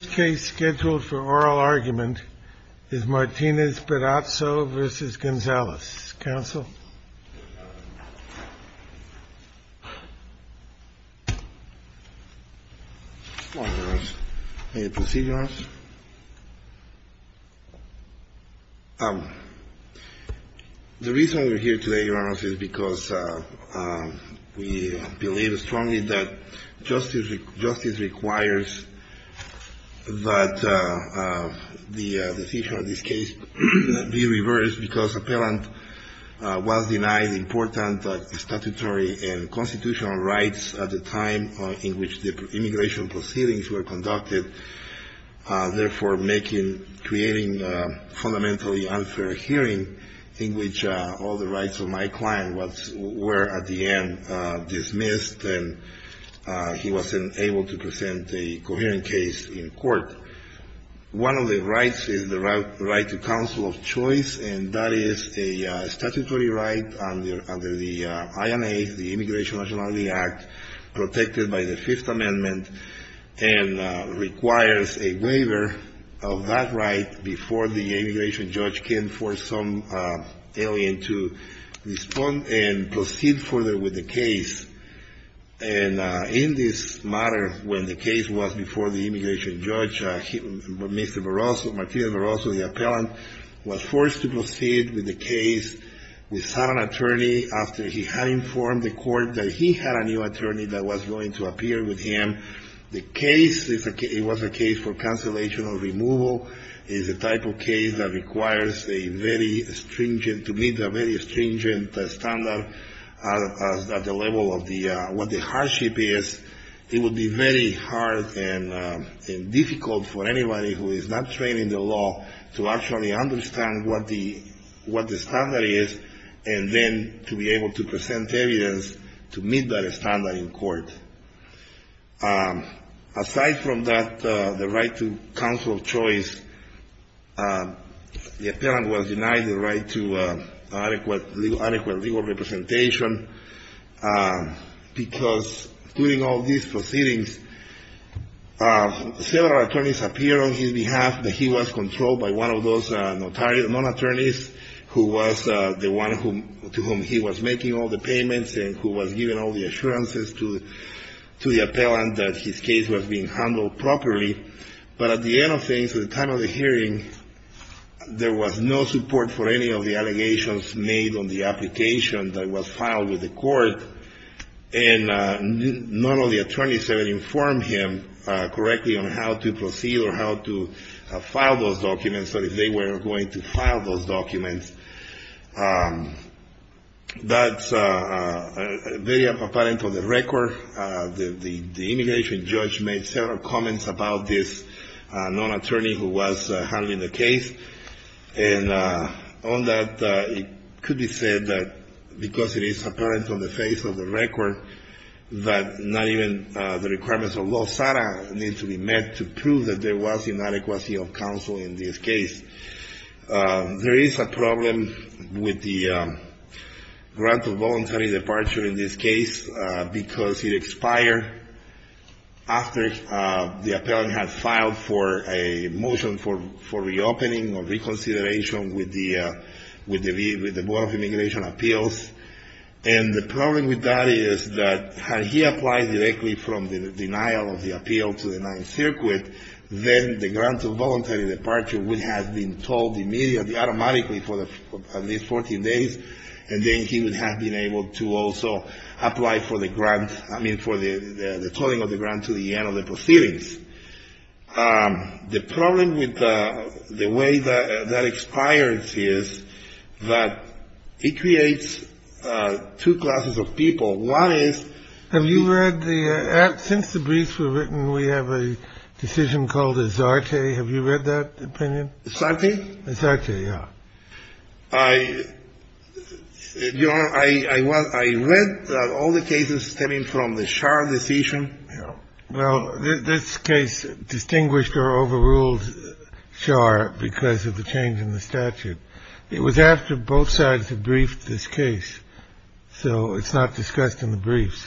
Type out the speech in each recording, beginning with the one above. This case scheduled for oral argument is Martinez-Barroso v. Gonzales. Counsel? Good morning, Your Honor. May I proceed, Your Honor? The reason we're here today, Your Honor, is because we believe strongly that justice requires that the decision of this case be reversed because appellant was denied important statutory and constitutional rights at the time in which the immigration proceedings were conducted. Therefore, making, creating fundamentally unfair hearing in which all the rights of my client were at the end dismissed and he wasn't able to present a coherent case in court. One of the rights is the right to counsel of choice, and that is a statutory right under the INA, the Immigration and Nationality Act, protected by the Fifth Amendment, and requires a waiver of that right before the immigration judge can force some alien to respond and proceed further with the case. And in this matter, when the case was before the immigration judge, Mr. Barroso, Martinez-Barroso, the appellant, was forced to proceed with the case without an attorney after he had informed the court that he had a new attorney that was going to appear with him. The case, it was a case for cancellation or removal. It is a type of case that requires a very stringent, to meet a very stringent standard at the level of what the hardship is. It would be very hard and difficult for anybody who is not trained in the law to actually understand what the standard is and then to be able to present evidence to meet that standard in court. Aside from that, the right to counsel of choice, the appellant was denied the right to adequate legal representation because during all these proceedings, several attorneys appeared on his behalf, but he was controlled by one of those non-attorneys who was the one to whom he was making all the payments and who was giving all the assurances to the appellant that his case was being handled properly. But at the end of things, at the time of the hearing, there was no support for any of the allegations made on the application that was filed with the court. And none of the attorneys ever informed him correctly on how to proceed or how to file those documents, or if they were going to file those documents. That's very apparent on the record. The immigration judge made several comments about this non-attorney who was handling the case. And on that, it could be said that because it is apparent on the face of the record that not even the requirements of law need to be met to prove that there was inadequacy of counsel in this case. There is a problem with the grant of voluntary departure in this case because it expired after the appellant had filed for a motion for reopening or reconsideration with the Board of Immigration Appeals. And the problem with that is that had he applied directly from the denial of the appeal to the Ninth Circuit, then the grant of voluntary departure would have been told immediately, automatically for at least 14 days, and then he would have been able to also apply for the grant, I mean, for the tolling of the grant to the end of the proceedings. The problem with the way that that expires is that it creates two classes of people. One is... Have you read the act? Since the briefs were written, we have a decision called a Zarte. Have you read that opinion? Zarte? Zarte, yeah. I read all the cases stemming from the Schar decision. Well, this case distinguished or overruled Schar because of the change in the statute. It was after both sides had briefed this case, so it's not discussed in the briefs.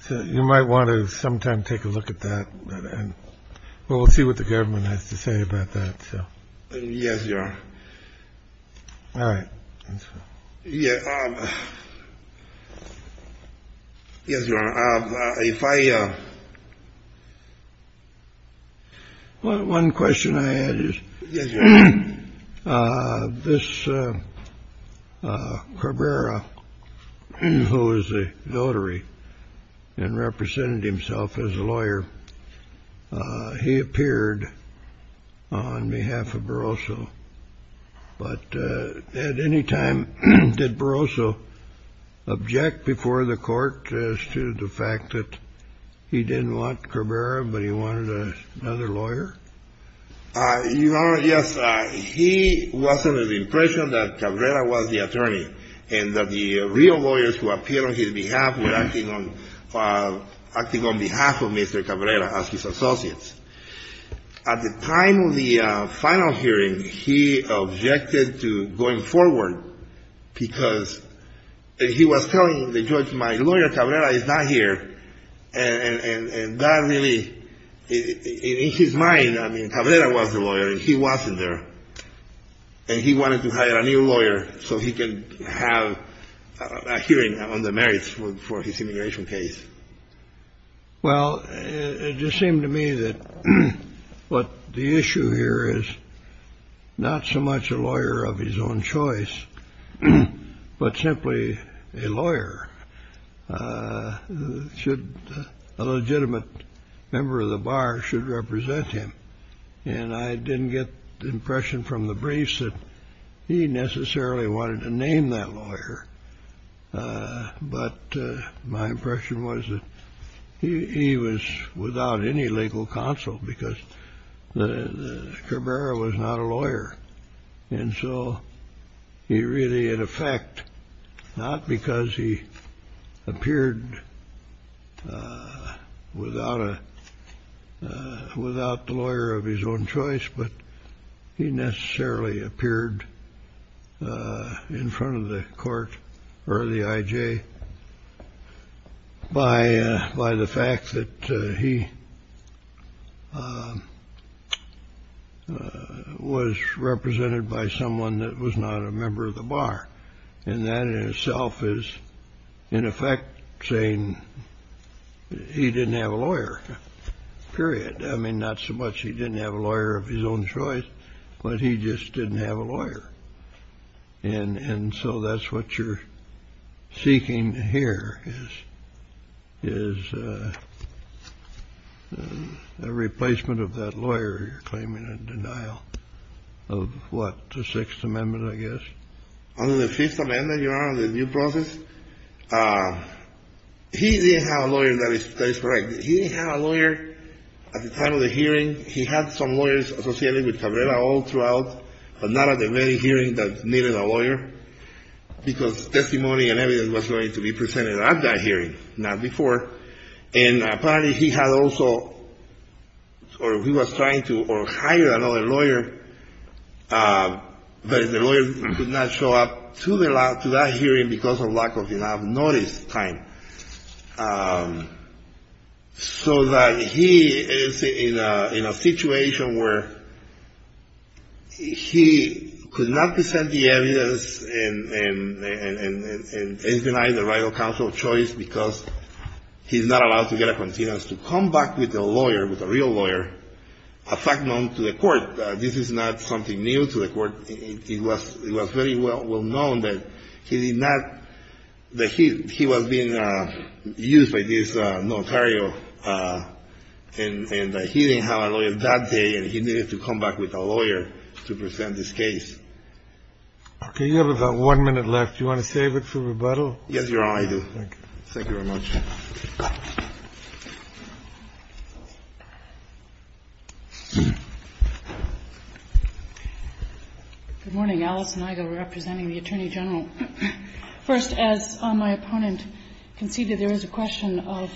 So you might want to sometime take a look at that, and we'll see what the government has to say about that. Yes, Your Honor. All right. Yeah. Yes, Your Honor. If I... One question I had is... Yes, Your Honor. This Cabrera, who is a notary and represented himself as a lawyer, he appeared on behalf of Barroso. But at any time, did Barroso object before the court as to the fact that he didn't want Cabrera, but he wanted another lawyer? Your Honor, yes. He was under the impression that Cabrera was the attorney and that the real lawyers who appeared on his behalf were acting on behalf of Mr. Cabrera as his associates. At the time of the final hearing, he objected to going forward because he was telling the judge, my lawyer Cabrera is not here. And that really, in his mind, I mean, Cabrera was the lawyer and he wasn't there. And he wanted to hire a new lawyer so he could have a hearing on the merits for his immigration case. Well, it just seemed to me that what the issue here is not so much a lawyer of his own choice, but simply a lawyer. A legitimate member of the bar should represent him. And I didn't get the impression from the briefs that he necessarily wanted to name that lawyer. But my impression was that he was without any legal counsel because Cabrera was not a lawyer. And so he really, in effect, not because he appeared without the lawyer of his own choice, but he necessarily appeared in front of the court or the IJ by the fact that he was represented by someone that was not a member of the bar. And that in itself is, in effect, saying he didn't have a lawyer, period. I mean, not so much he didn't have a lawyer of his own choice, but he just didn't have a lawyer. And so that's what you're seeking here is a replacement of that lawyer you're claiming in denial of what, the Sixth Amendment, I guess. Under the Fifth Amendment, Your Honor, the due process, he didn't have a lawyer that is correct. He didn't have a lawyer at the time of the hearing. He had some lawyers associated with Cabrera all throughout, but not at the very hearing that needed a lawyer, because testimony and evidence was going to be presented at that hearing, not before. And apparently he had also, or he was trying to hire another lawyer, but the lawyer could not show up to that hearing because of lack of enough notice time. So that he is in a situation where he could not present the evidence and deny the right of counsel of choice because he's not allowed to get a continence to come back with a lawyer, with a real lawyer, a fact known to the court. This is not something new to the court. It was very well known that he did not, that he was being used by this notario, and he didn't have a lawyer that day, and he needed to come back with a lawyer to present this case. Okay. You have about one minute left. Do you want to save it for rebuttal? Yes, Your Honor, I do. Thank you. Thank you very much. Good morning. Alison Igo representing the Attorney General. First, as my opponent conceded, there is a question of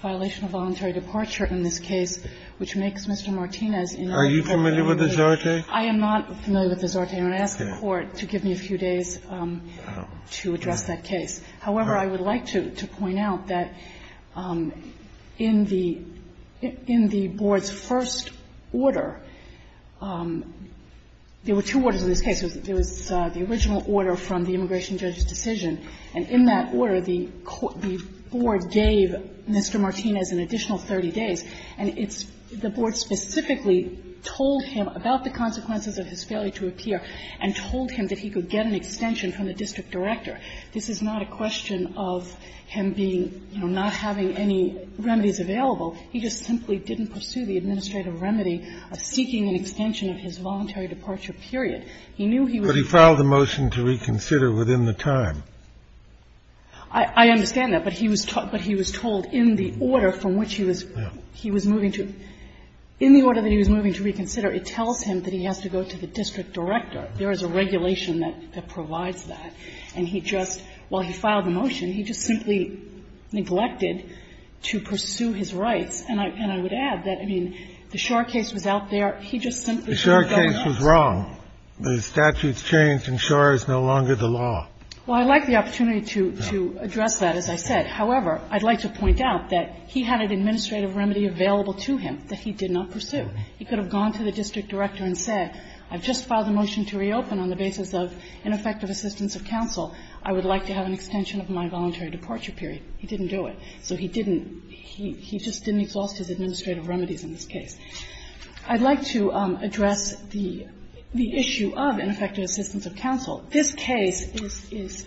violation of voluntary departure in this case, which makes Mr. Martinez ineligible. Are you familiar with the Zorte? I am not familiar with the Zorte. I'm going to ask the Court to give me a few days to address that case. However, I would like to point out that in the Board's first order, there were two orders in this case. There was the original order from the immigration judge's decision, and in that order the Board gave Mr. Martinez an additional 30 days. And it's the Board specifically told him about the consequences of his failure to appear and told him that he could get an extension from the district director. This is not a question of him being, you know, not having any remedies available. He just simply didn't pursue the administrative remedy of seeking an extension of his voluntary departure, period. He knew he was going to be. But he filed a motion to reconsider within the time. I understand that. But he was told in the order from which he was moving to. In the order that he was moving to reconsider, it tells him that he has to go to the district director. There is a regulation that provides that. And he just, while he filed the motion, he just simply neglected to pursue his rights. And I would add that, I mean, the Schor case was out there. He just simply couldn't go. The Schor case was wrong. The statutes changed, and Schor is no longer the law. Well, I'd like the opportunity to address that, as I said. However, I'd like to point out that he had an administrative remedy available to him that he did not pursue. He could have gone to the district director and said, I've just filed a motion to reopen on the basis of ineffective assistance of counsel. I would like to have an extension of my voluntary departure period. He didn't do it. So he didn't. He just didn't exhaust his administrative remedies in this case. I'd like to address the issue of ineffective assistance of counsel. This case is an example.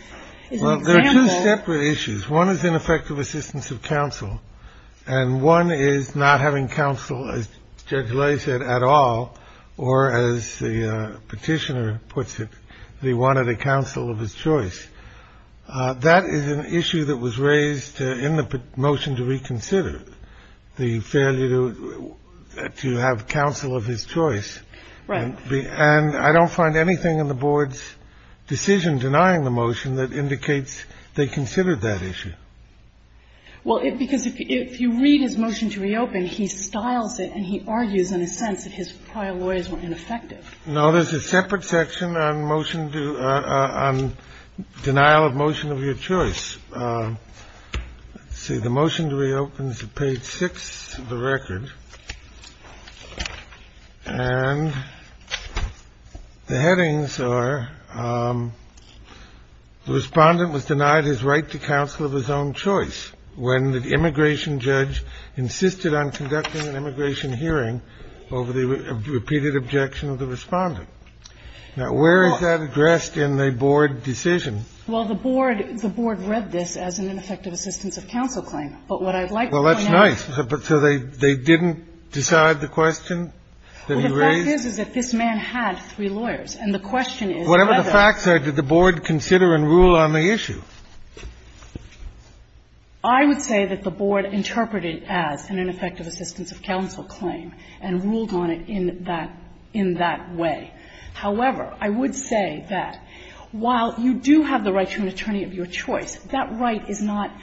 Well, there are two separate issues. One is ineffective assistance of counsel, and one is not having counsel, as Judge Ley said, at all, or as the Petitioner puts it, that he wanted a counsel of his choice. That is an issue that was raised in the motion to reconsider, the failure to have counsel of his choice. Right. And I don't find anything in the Board's decision denying the motion that indicates they considered that issue. Well, because if you read his motion to reopen, he styles it and he argues in a sense that his prior lawyers were ineffective. No, there's a separate section on motion to – on denial of motion of your choice. Let's see. The motion to reopen is at page 6 of the record. And the headings are the Respondent was denied his right to counsel of his own choice when the immigration judge insisted on conducting an immigration hearing over the repeated objection of the Respondent. Now, where is that addressed in the Board decision? Well, the Board read this as an ineffective assistance of counsel claim. But what I'd like to point out – Well, that's nice. So they didn't decide the question that he raised? Well, the fact is, is that this man had three lawyers. And the question is whether – Whatever the facts are, did the Board consider and rule on the issue? I would say that the Board interpreted as an ineffective assistance of counsel claim and ruled on it in that – in that way. However, I would say that while you do have the right to an attorney of your choice, that right is not –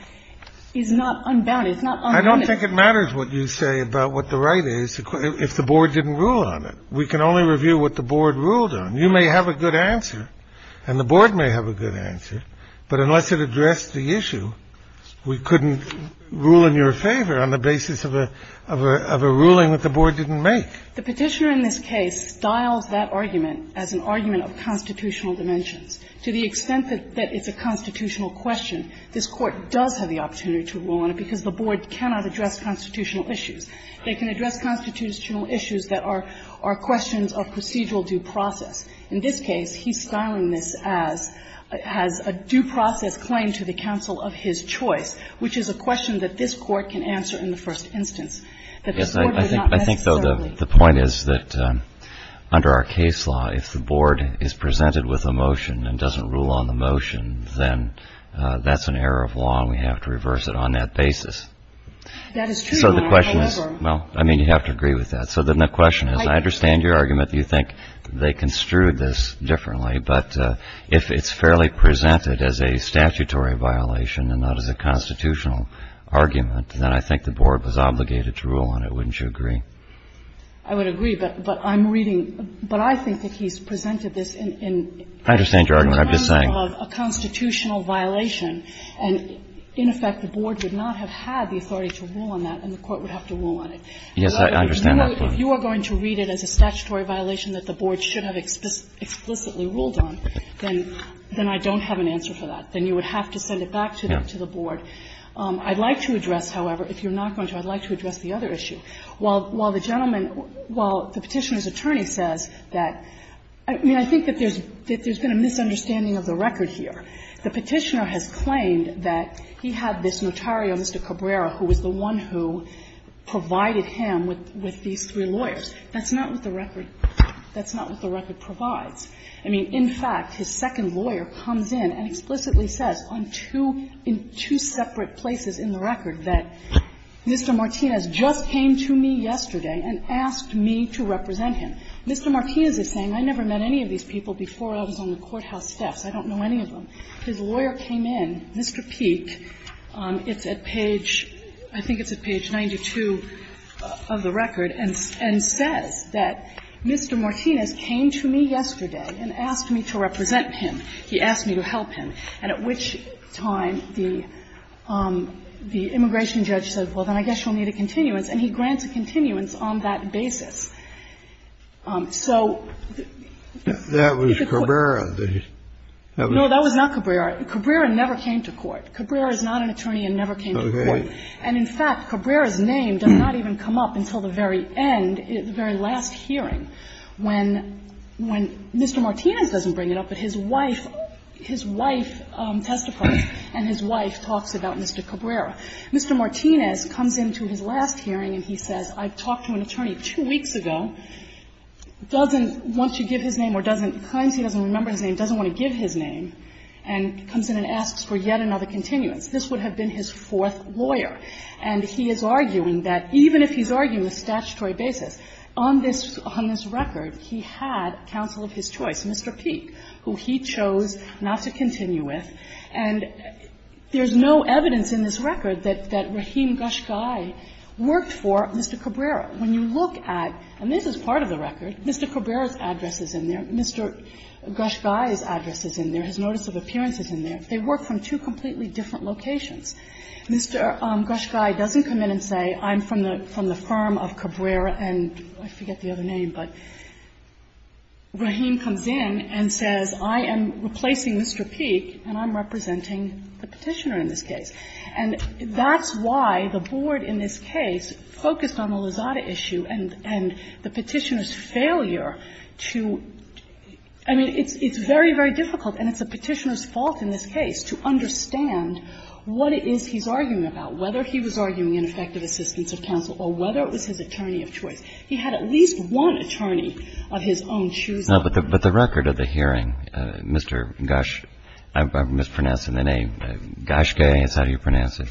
is not unbounded. It's not unlimited. I don't think it matters what you say about what the right is if the Board didn't rule on it. We can only review what the Board ruled on. You may have a good answer and the Board may have a good answer, but unless it addressed the issue, we couldn't rule in your favor on the basis of a – of a ruling that the Board didn't make. The Petitioner in this case styles that argument as an argument of constitutional dimensions. To the extent that it's a constitutional question, this Court does have the opportunity to rule on it because the Board cannot address constitutional issues. They can address constitutional issues that are questions of procedural due process. In this case, he's styling this as – as a due process claim to the counsel of his choice, which is a question that this Court can answer in the first instance, that this Court does not necessarily. I think, though, the point is that under our case law, if the Board is presented with a motion and doesn't rule on the motion, then that's an error of law and we have to reverse it on that basis. That is true, Your Honor, however. So the question is – well, I mean, you'd have to agree with that. So then the question is, I understand your argument that you think they construed this differently, but if it's fairly presented as a statutory violation and not as a constitutional argument, then I think the Board was obligated to rule on it. Wouldn't you agree? I would agree, but I'm reading – but I think that he's presented this in – in terms of a constitutional violation. I understand your argument. I'm just saying. And, in effect, the Board would not have had the authority to rule on that and the Court would have to rule on it. Yes, I understand that point. If you are going to read it as a statutory violation that the Board should have explicitly ruled on, then – then I don't have an answer for that. Then you would have to send it back to the Board. I'd like to address, however, if you're not going to, I'd like to address the other issue. While the gentleman – while the Petitioner's attorney says that – I mean, I think that there's been a misunderstanding of the record here. The Petitioner has claimed that he had this notario, Mr. Cabrera, who was the one who provided him with – with these three lawyers. That's not what the record – that's not what the record provides. I mean, in fact, his second lawyer comes in and explicitly says on two – in two separate places in the record that Mr. Martinez just came to me yesterday and asked me to represent him. Mr. Martinez is saying, I never met any of these people before I was on the courthouse steps. I don't know any of them. His lawyer came in, Mr. Peek. It's at page – I think it's at page 92 of the record, and says that Mr. Martinez came to me yesterday and asked me to represent him. He asked me to help him. And at which time the immigration judge said, well, then I guess you'll need a continuance, and he grants a continuance on that basis. So you could put – That was Cabrera. No, that was not Cabrera. Cabrera never came to court. Cabrera is not an attorney and never came to court. Okay. And in fact, Cabrera's name does not even come up until the very end, the very last hearing, when – when Mr. Martinez doesn't bring it up, but his wife – his wife testifies, and his wife talks about Mr. Cabrera. Mr. Martinez comes into his last hearing and he says, I talked to an attorney two weeks ago, doesn't want to give his name or doesn't – claims he doesn't remember his name, doesn't want to give his name, and comes in and asks for yet another continuance. This would have been his fourth lawyer. And he is arguing that even if he's arguing the statutory basis, on this – on this record, he had counsel of his choice, Mr. Peek, who he chose not to continue with. And there's no evidence in this record that – that Rahim Ghashgai worked for Mr. Cabrera. When you look at – and this is part of the record. Mr. Cabrera's address is in there. Mr. Ghashgai's address is in there. His notice of appearance is in there. They work from two completely different locations. Mr. Ghashgai doesn't come in and say, I'm from the firm of Cabrera and – I forget the other name, but Rahim comes in and says, I am replacing Mr. Peek and I'm representing the Petitioner in this case. And that's why the board in this case focused on the Lozada issue and the Petitioner's failure to – I mean, it's very, very difficult, and it's the Petitioner's fault in this case, to understand what it is he's arguing about, whether he was arguing an effective assistance of counsel or whether it was his attorney of choice. He had at least one attorney of his own choosing. Now, but the record of the hearing, Mr. Ghash – I'm mispronouncing the name – Ghashgai, that's how you pronounce it,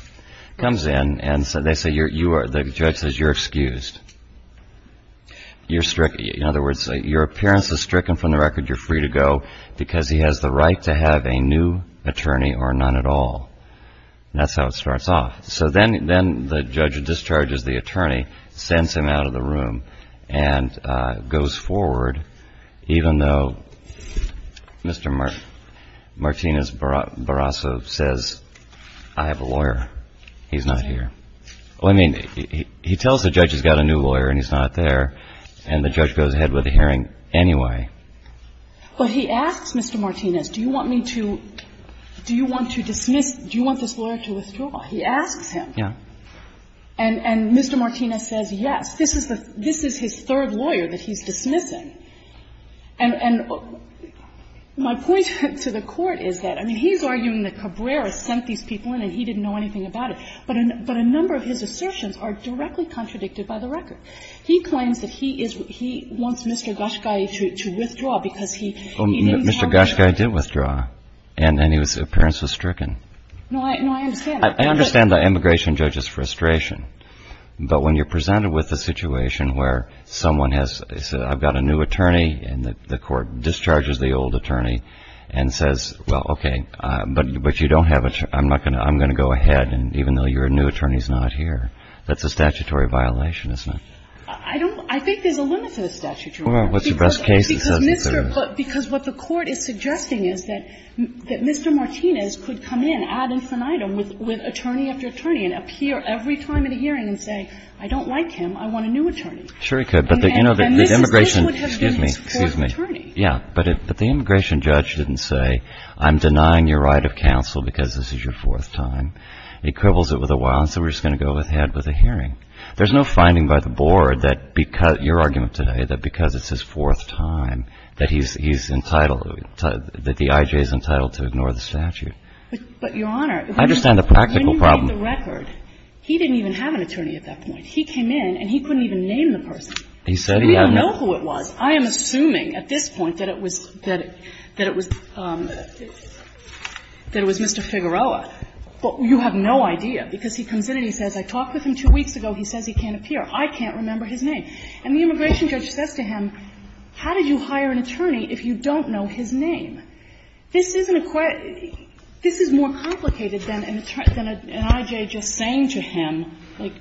comes in and they say you're – the judge says you're excused. You're – in other words, your appearance is stricken from the record. You're free to go because he has the right to have a new attorney or none at all. That's how it starts off. So then the judge discharges the attorney, sends him out of the room, and goes forward even though Mr. Martinez Barrasso says, I have a lawyer. He's not here. Well, I mean, he tells the judge he's got a new lawyer and he's not there, and the But he asks Mr. Martinez, do you want me to – do you want to dismiss – do you want this lawyer to withdraw? He asks him. Yeah. And Mr. Martinez says yes. This is the – this is his third lawyer that he's dismissing. And my point to the Court is that, I mean, he's arguing that Cabrera sent these people in and he didn't know anything about it, but a number of his assertions are directly contradicted by the record. He claims that he is – he wants Mr. Goschkei to withdraw because he didn't have a lawyer. Well, Mr. Goschkei did withdraw. And his appearance was stricken. No, I understand. I understand the immigration judge's frustration. But when you're presented with a situation where someone has – I've got a new attorney and the Court discharges the old attorney and says, well, okay, but you don't have a – I'm not going to – I'm going to go ahead, and even though your new attorney is not here, that's a statutory violation, isn't it? I don't – I think there's a limit to the statutory limit. Well, what's the best case that says that there is? Because Mr. – because what the Court is suggesting is that Mr. Martinez could come in ad infinitum with attorney after attorney and appear every time at a hearing and say, I don't like him. I want a new attorney. Sure he could. But, you know, the immigration – And this would have been his fourth attorney. Yeah. But the immigration judge didn't say, I'm denying your right of counsel because this is your fourth time. He quibbles it with a while, and so we're just going to go ahead with a hearing. There's no finding by the Board that because – your argument today that because it's his fourth time that he's entitled – that the I.J. is entitled to ignore the statute. But, Your Honor – I understand the practical problem. When you read the record, he didn't even have an attorney at that point. He came in and he couldn't even name the person. He said he had no – We don't know who it was. I am assuming at this point that it was – that it was Mr. Figueroa. But you have no idea, because he comes in and he says, I talked with him two weeks ago. He says he can't appear. I can't remember his name. And the immigration judge says to him, how did you hire an attorney if you don't know his name? This isn't a – this is more complicated than an I.J. just saying to him, like,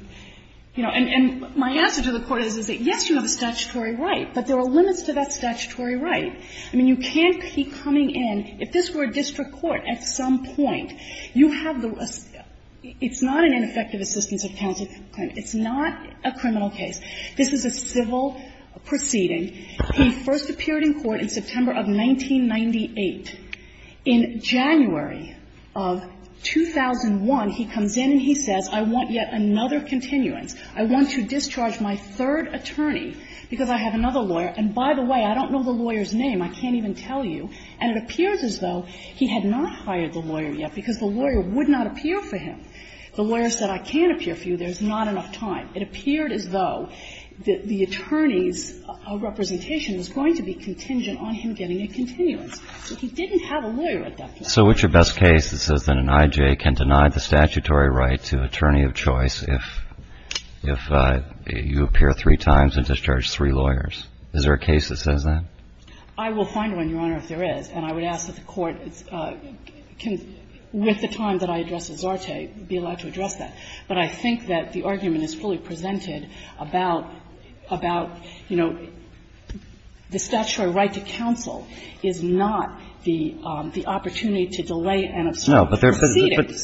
you know, and my answer to the Court is, is that, yes, you have a statutory right, but there are limits to that statutory right. I mean, you can't keep coming in. If this were a district court at some point, you have the – it's not an ineffective assistance of counsel claim. It's not a criminal case. This is a civil proceeding. He first appeared in court in September of 1998. In January of 2001, he comes in and he says, I want yet another continuance. I want to discharge my third attorney because I have another lawyer. And by the way, I don't know the lawyer's name. I can't even tell you. And it appears as though he had not hired the lawyer yet because the lawyer would not appear for him. The lawyer said, I can't appear for you. There's not enough time. It appeared as though the attorney's representation was going to be contingent on him getting a continuance. But he didn't have a lawyer at that point. So what's your best case that says that an I.J. can deny the statutory right to attorney of choice if you appear three times and discharge three lawyers? Is there a case that says that? I will find one, Your Honor, if there is. And I would ask that the Court can, with the time that I address at Zarte, be allowed to address that. But I think that the argument is fully presented about, you know, the statutory right to counsel is not the opportunity to delay and observe proceedings.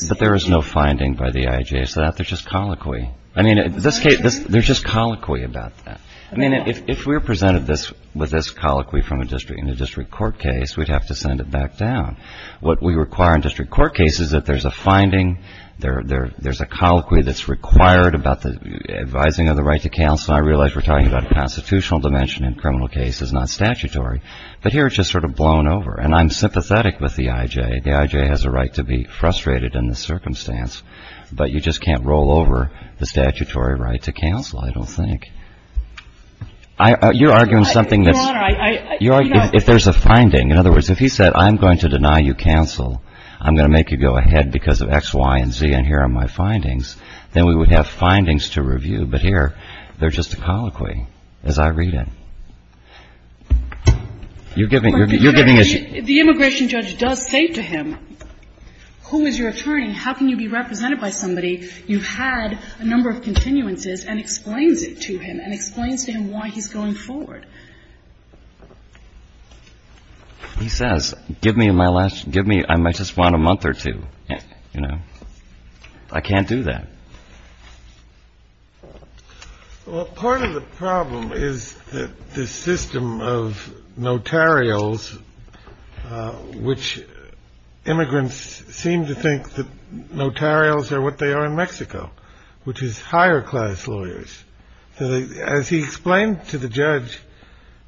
No, but there is no finding by the I.J. It's just colloquy. I mean, in this case, there's just colloquy about that. I mean, if we're presented with this colloquy in a district court case, we'd have to send it back down. What we require in district court cases is that there's a finding, there's a colloquy that's required about the advising of the right to counsel. And I realize we're talking about a constitutional dimension in criminal cases, not statutory. But here it's just sort of blown over. And I'm sympathetic with the I.J. The I.J. has a right to be frustrated in this circumstance, but you just can't roll over the statutory right to counsel, I don't think. You're arguing something that's... Your Honor, I... You're arguing if there's a finding. In other words, if he said, I'm going to deny you counsel, I'm going to make you go ahead because of X, Y, and Z, and here are my findings, then we would have findings to review. But here, there's just a colloquy, as I read it. You're giving us... The immigration judge does say to him, who is your attorney and how can you be represented by somebody, you've had a number of continuances, and explains it to him and explains to him why he's going forward. He says, give me my last, give me, I just want a month or two, you know. I can't do that. Well, part of the problem is that the system of notarials, which immigrants seem to think that notarials are what they are in Mexico, which is higher class lawyers, as he explained to the judge,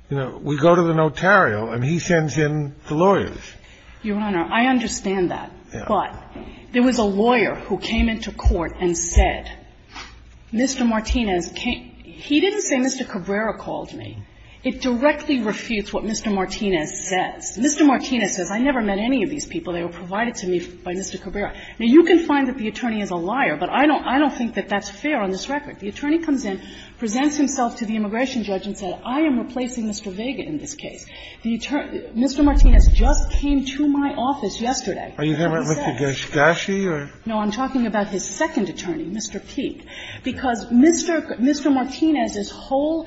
you know, we go to the notarial and he sends in the lawyers. Your Honor, I understand that. Yeah. But there was a lawyer who came into court and said, Mr. Martinez, he didn't say Mr. Cabrera called me. It directly refutes what Mr. Martinez says. Mr. Martinez says, I never met any of these people. They were provided to me by Mr. Cabrera. Now, you can find that the attorney is a liar, but I don't think that that's fair on this record. The attorney comes in, presents himself to the immigration judge and says, I am replacing Mr. Vega in this case. The attorney Mr. Martinez just came to my office yesterday. Are you talking about Mr. Gershkashi or... No, I'm talking about his second attorney, Mr. Peete, because Mr. Mr. Martinez's whole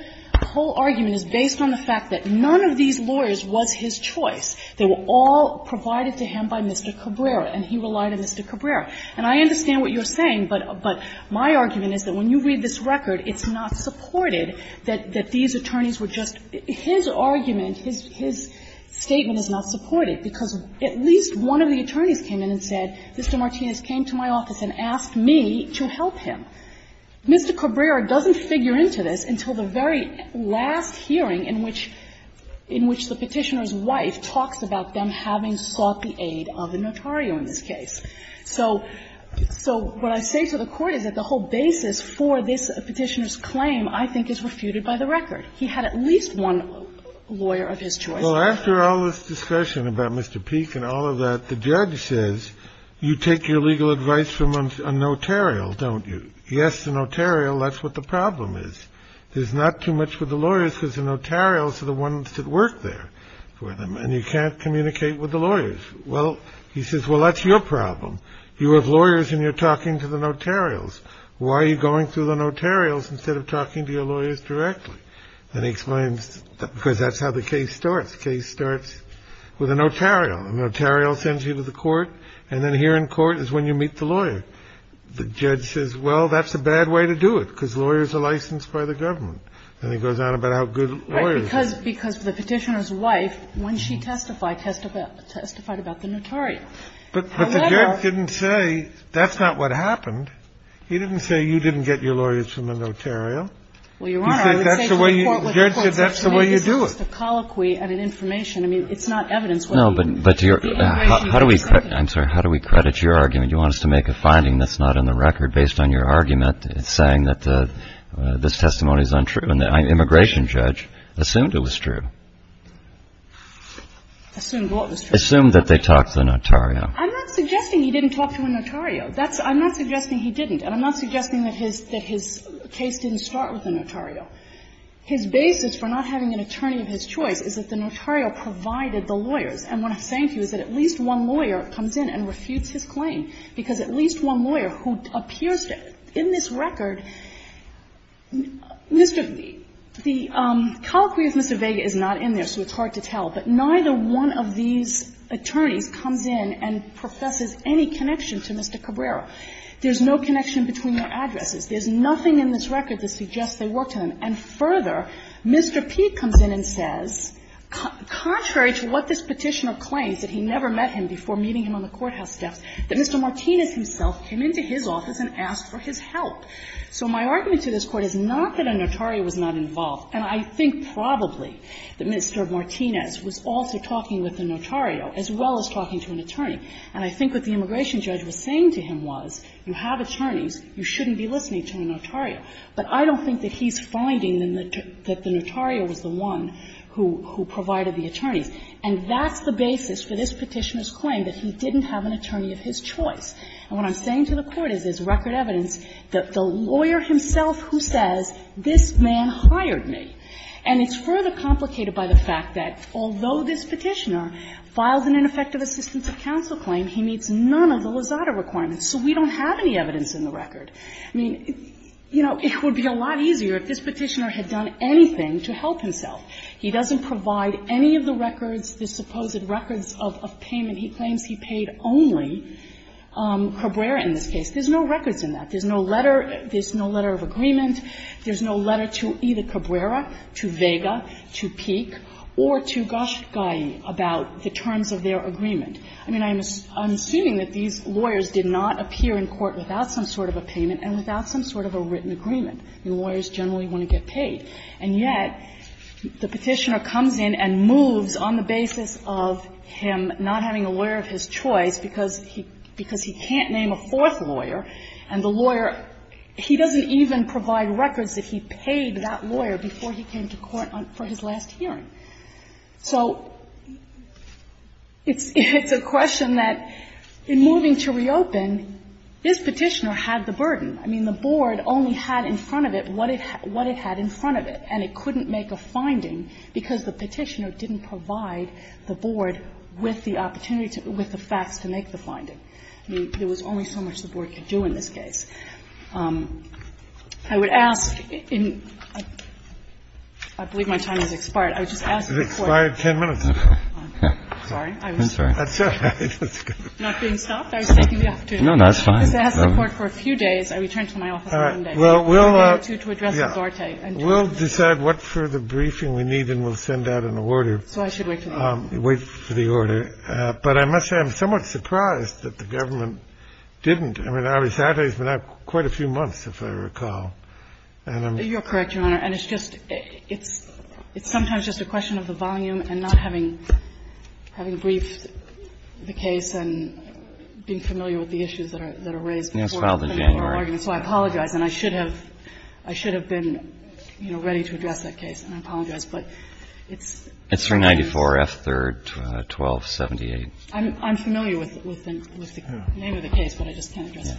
argument is based on the fact that none of these lawyers was his choice. They were all provided to him by Mr. Cabrera, and he relied on Mr. Cabrera. And I understand what you're saying, but my argument is that when you read this record, it's not supported that these attorneys were just his argument, his statement is not supported, because at least one of the attorneys came in and said, Mr. Martinez came to my office and asked me to help him. Mr. Cabrera doesn't figure into this until the very last hearing in which the Petitioner's wife talks about them having sought the aid of a notario in this case. So what I say to the Court is that the whole basis for this Petitioner's claim I think is refuted by the record. He had at least one lawyer of his choice. Well, after all this discussion about Mr. Peete and all of that, the judge says, you take your legal advice from a notarial, don't you? Yes, the notarial, that's what the problem is. There's not too much for the lawyers because the notarials are the ones that work there for them, and you can't communicate with the lawyers. Well, he says, well, that's your problem. You have lawyers and you're talking to the notarials. Why are you going through the notarials instead of talking to your lawyers directly? And he explains, because that's how the case starts. Case starts with a notarial. A notarial sends you to the court, and then here in court is when you meet the lawyer. The judge says, well, that's a bad way to do it because lawyers are licensed by the government. And he goes on about how good lawyers are. Right, because the Petitioner's wife, when she testified, testified about the notarial. However But the judge didn't say that's not what happened. He didn't say you didn't get your lawyers from the notarial. Well, Your Honor, I would say to the Court that the court said to me this is just a colloquy and an information. I mean, it's not evidence. No, but to your How do we I'm sorry. How do we credit your argument? You want us to make a finding that's not in the record based on your argument saying that this testimony is untrue? And the immigration judge assumed it was true. Assumed what was true? Assumed that they talked to the notarial. I'm not suggesting he didn't talk to a notarial. That's I'm not suggesting he didn't. And I'm not suggesting that his that his case didn't start with a notarial. His basis for not having an attorney of his choice is that the notarial provided the lawyers. And what I'm saying to you is that at least one lawyer comes in and refutes his claim, because at least one lawyer who appears to, in this record, Mr. The colloquy of Mr. Vega is not in there, so it's hard to tell. But neither one of these attorneys comes in and professes any connection to Mr. Cabrera. There's no connection between their addresses. There's nothing in this record that suggests they worked on an address. And further, Mr. P comes in and says, contrary to what this Petitioner claims, that he never met him before meeting him on the courthouse desk, that Mr. Martinez himself came into his office and asked for his help. So my argument to this Court is not that a notarial was not involved, and I think probably that Mr. Martinez was also talking with a notarial as well as talking to an attorney. And I think what the immigration judge was saying to him was, you have attorneys, you shouldn't be listening to a notarial. But I don't think that he's finding that the notarial was the one who provided the attorneys. And that's the basis for this Petitioner's claim, that he didn't have an attorney of his choice. And what I'm saying to the Court is there's record evidence that the lawyer himself who says, this man hired me, and it's further complicated by the fact that although this Petitioner filed an ineffective assistance of counsel claim, he meets none of the So we don't have any evidence in the record. I mean, you know, it would be a lot easier if this Petitioner had done anything to help himself. He doesn't provide any of the records, the supposed records of payment he claims he paid only, Cabrera in this case. There's no records in that. There's no letter of agreement. There's no letter to either Cabrera, to Vega, to Peek, or to Ghoshgai about the terms of their agreement. I mean, I'm assuming that these lawyers did not appear in court without some sort of a payment and without some sort of a written agreement. I mean, lawyers generally want to get paid. And yet, the Petitioner comes in and moves on the basis of him not having a lawyer of his choice because he can't name a fourth lawyer, and the lawyer, he doesn't even provide records that he paid that lawyer before he came to court for his last hearing. So it's a question that, in moving to reopen, this Petitioner had the power to do that without the burden. I mean, the Board only had in front of it what it had in front of it, and it couldn't make a finding because the Petitioner didn't provide the Board with the opportunity to do it, with the facts to make the finding. I mean, there was only so much the Board could do in this case. I would ask in – I believe my time has expired. I would just ask the Court to take the opportunity to ask the Court for a few days I return to my office on Monday, a day or two, to address with Arte. We'll decide what further briefing we need, and we'll send out an order. So I should wait for the order. Wait for the order. But I must say I'm somewhat surprised that the government didn't. I mean, Arte's been out quite a few months, if I recall. You're correct, Your Honor. And it's just – it's sometimes just a question of the volume and not having briefed the case and being familiar with the issues that are raised. Yes, it's filed in January. And I apologize, and I should have been ready to address that case, and I apologize, but it's new. It's for 94 F. 3rd, 1278. I'm familiar with the name of the case, but I just can't address it.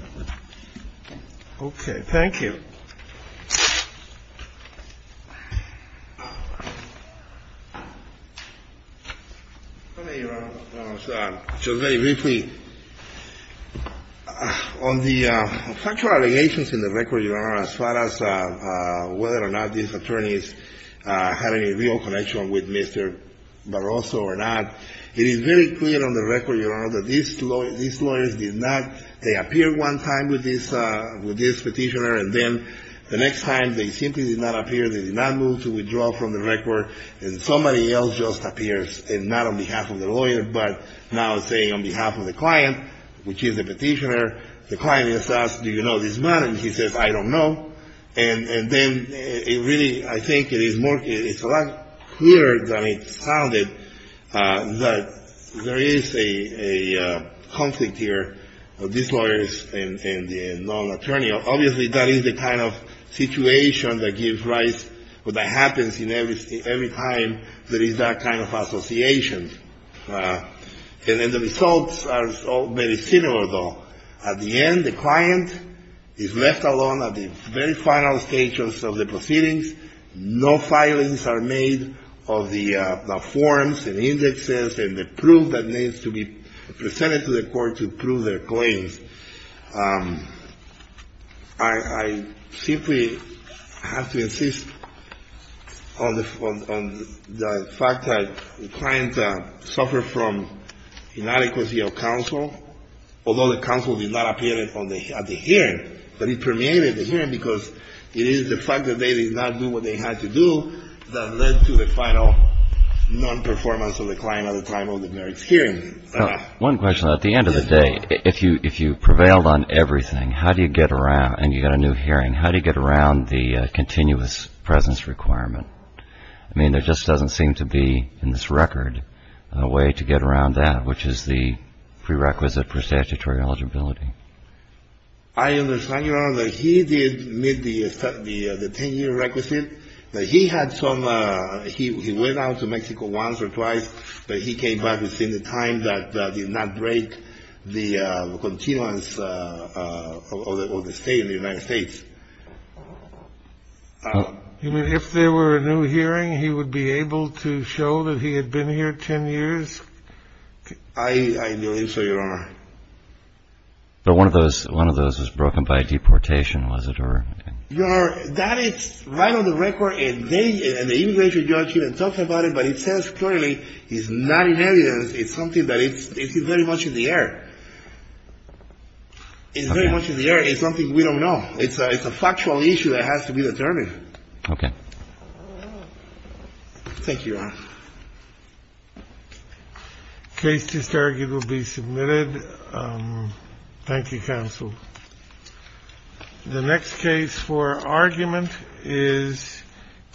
Okay. Thank you. Your Honor, just very briefly, on the factual allegations in the record, Your Honor, as far as whether or not these attorneys had any real connection with Mr. Barroso or not, it is very clear on the record, Your Honor, that these lawyers did not — they appeared one time with this petitioner, and then the next time they appeared, they did not appear. The next time they simply did not appear, they did not move to withdraw from the record, and somebody else just appears, and not on behalf of the lawyer, but now saying on behalf of the client, which is the petitioner. The client is asked, do you know this man? And he says, I don't know. And then it really — I think it is more — it's a lot clearer than it sounded that there is a conflict here of these lawyers and the non-attorney. Obviously, that is the kind of situation that gives rise — that happens every time there is that kind of association. And then the results are very similar, though. At the end, the client is left alone at the very final stages of the proceedings. No filings are made of the forms and indexes and the proof that needs to be presented to the court to prove their claims. I simply have to insist on the fact that the client suffered from inadequacy of counsel, although the counsel did not appear at the hearing. But it permeated the hearing because it is the fact that they did not do what they had to do that led to the final non-performance of the client at the time of the merits hearing. One question. At the end of the day, if you prevailed on everything, how do you get around — and you got a new hearing — how do you get around the continuous presence requirement? I mean, there just doesn't seem to be, in this record, a way to get around that, which is the prerequisite for statutory eligibility. I understand, Your Honor, that he did meet the 10-year requisite. He had some — he went out to Mexico once or twice, but he came back within the time that did not break the continuance of the state in the United States. You mean if there were a new hearing, he would be able to show that he had been here 10 years? I believe so, Your Honor. But one of those was broken by deportation, was it? Your Honor, that is right on the record, and the immigration judge even talked about it, but it says clearly it's not in evidence. It's something that is very much in the air. It's very much in the air. It's something we don't know. It's a factual issue that has to be determined. Okay. Thank you, Your Honor. Case just argued will be submitted. Thank you, counsel. The next case for argument is Kikovic v. Gonzalez.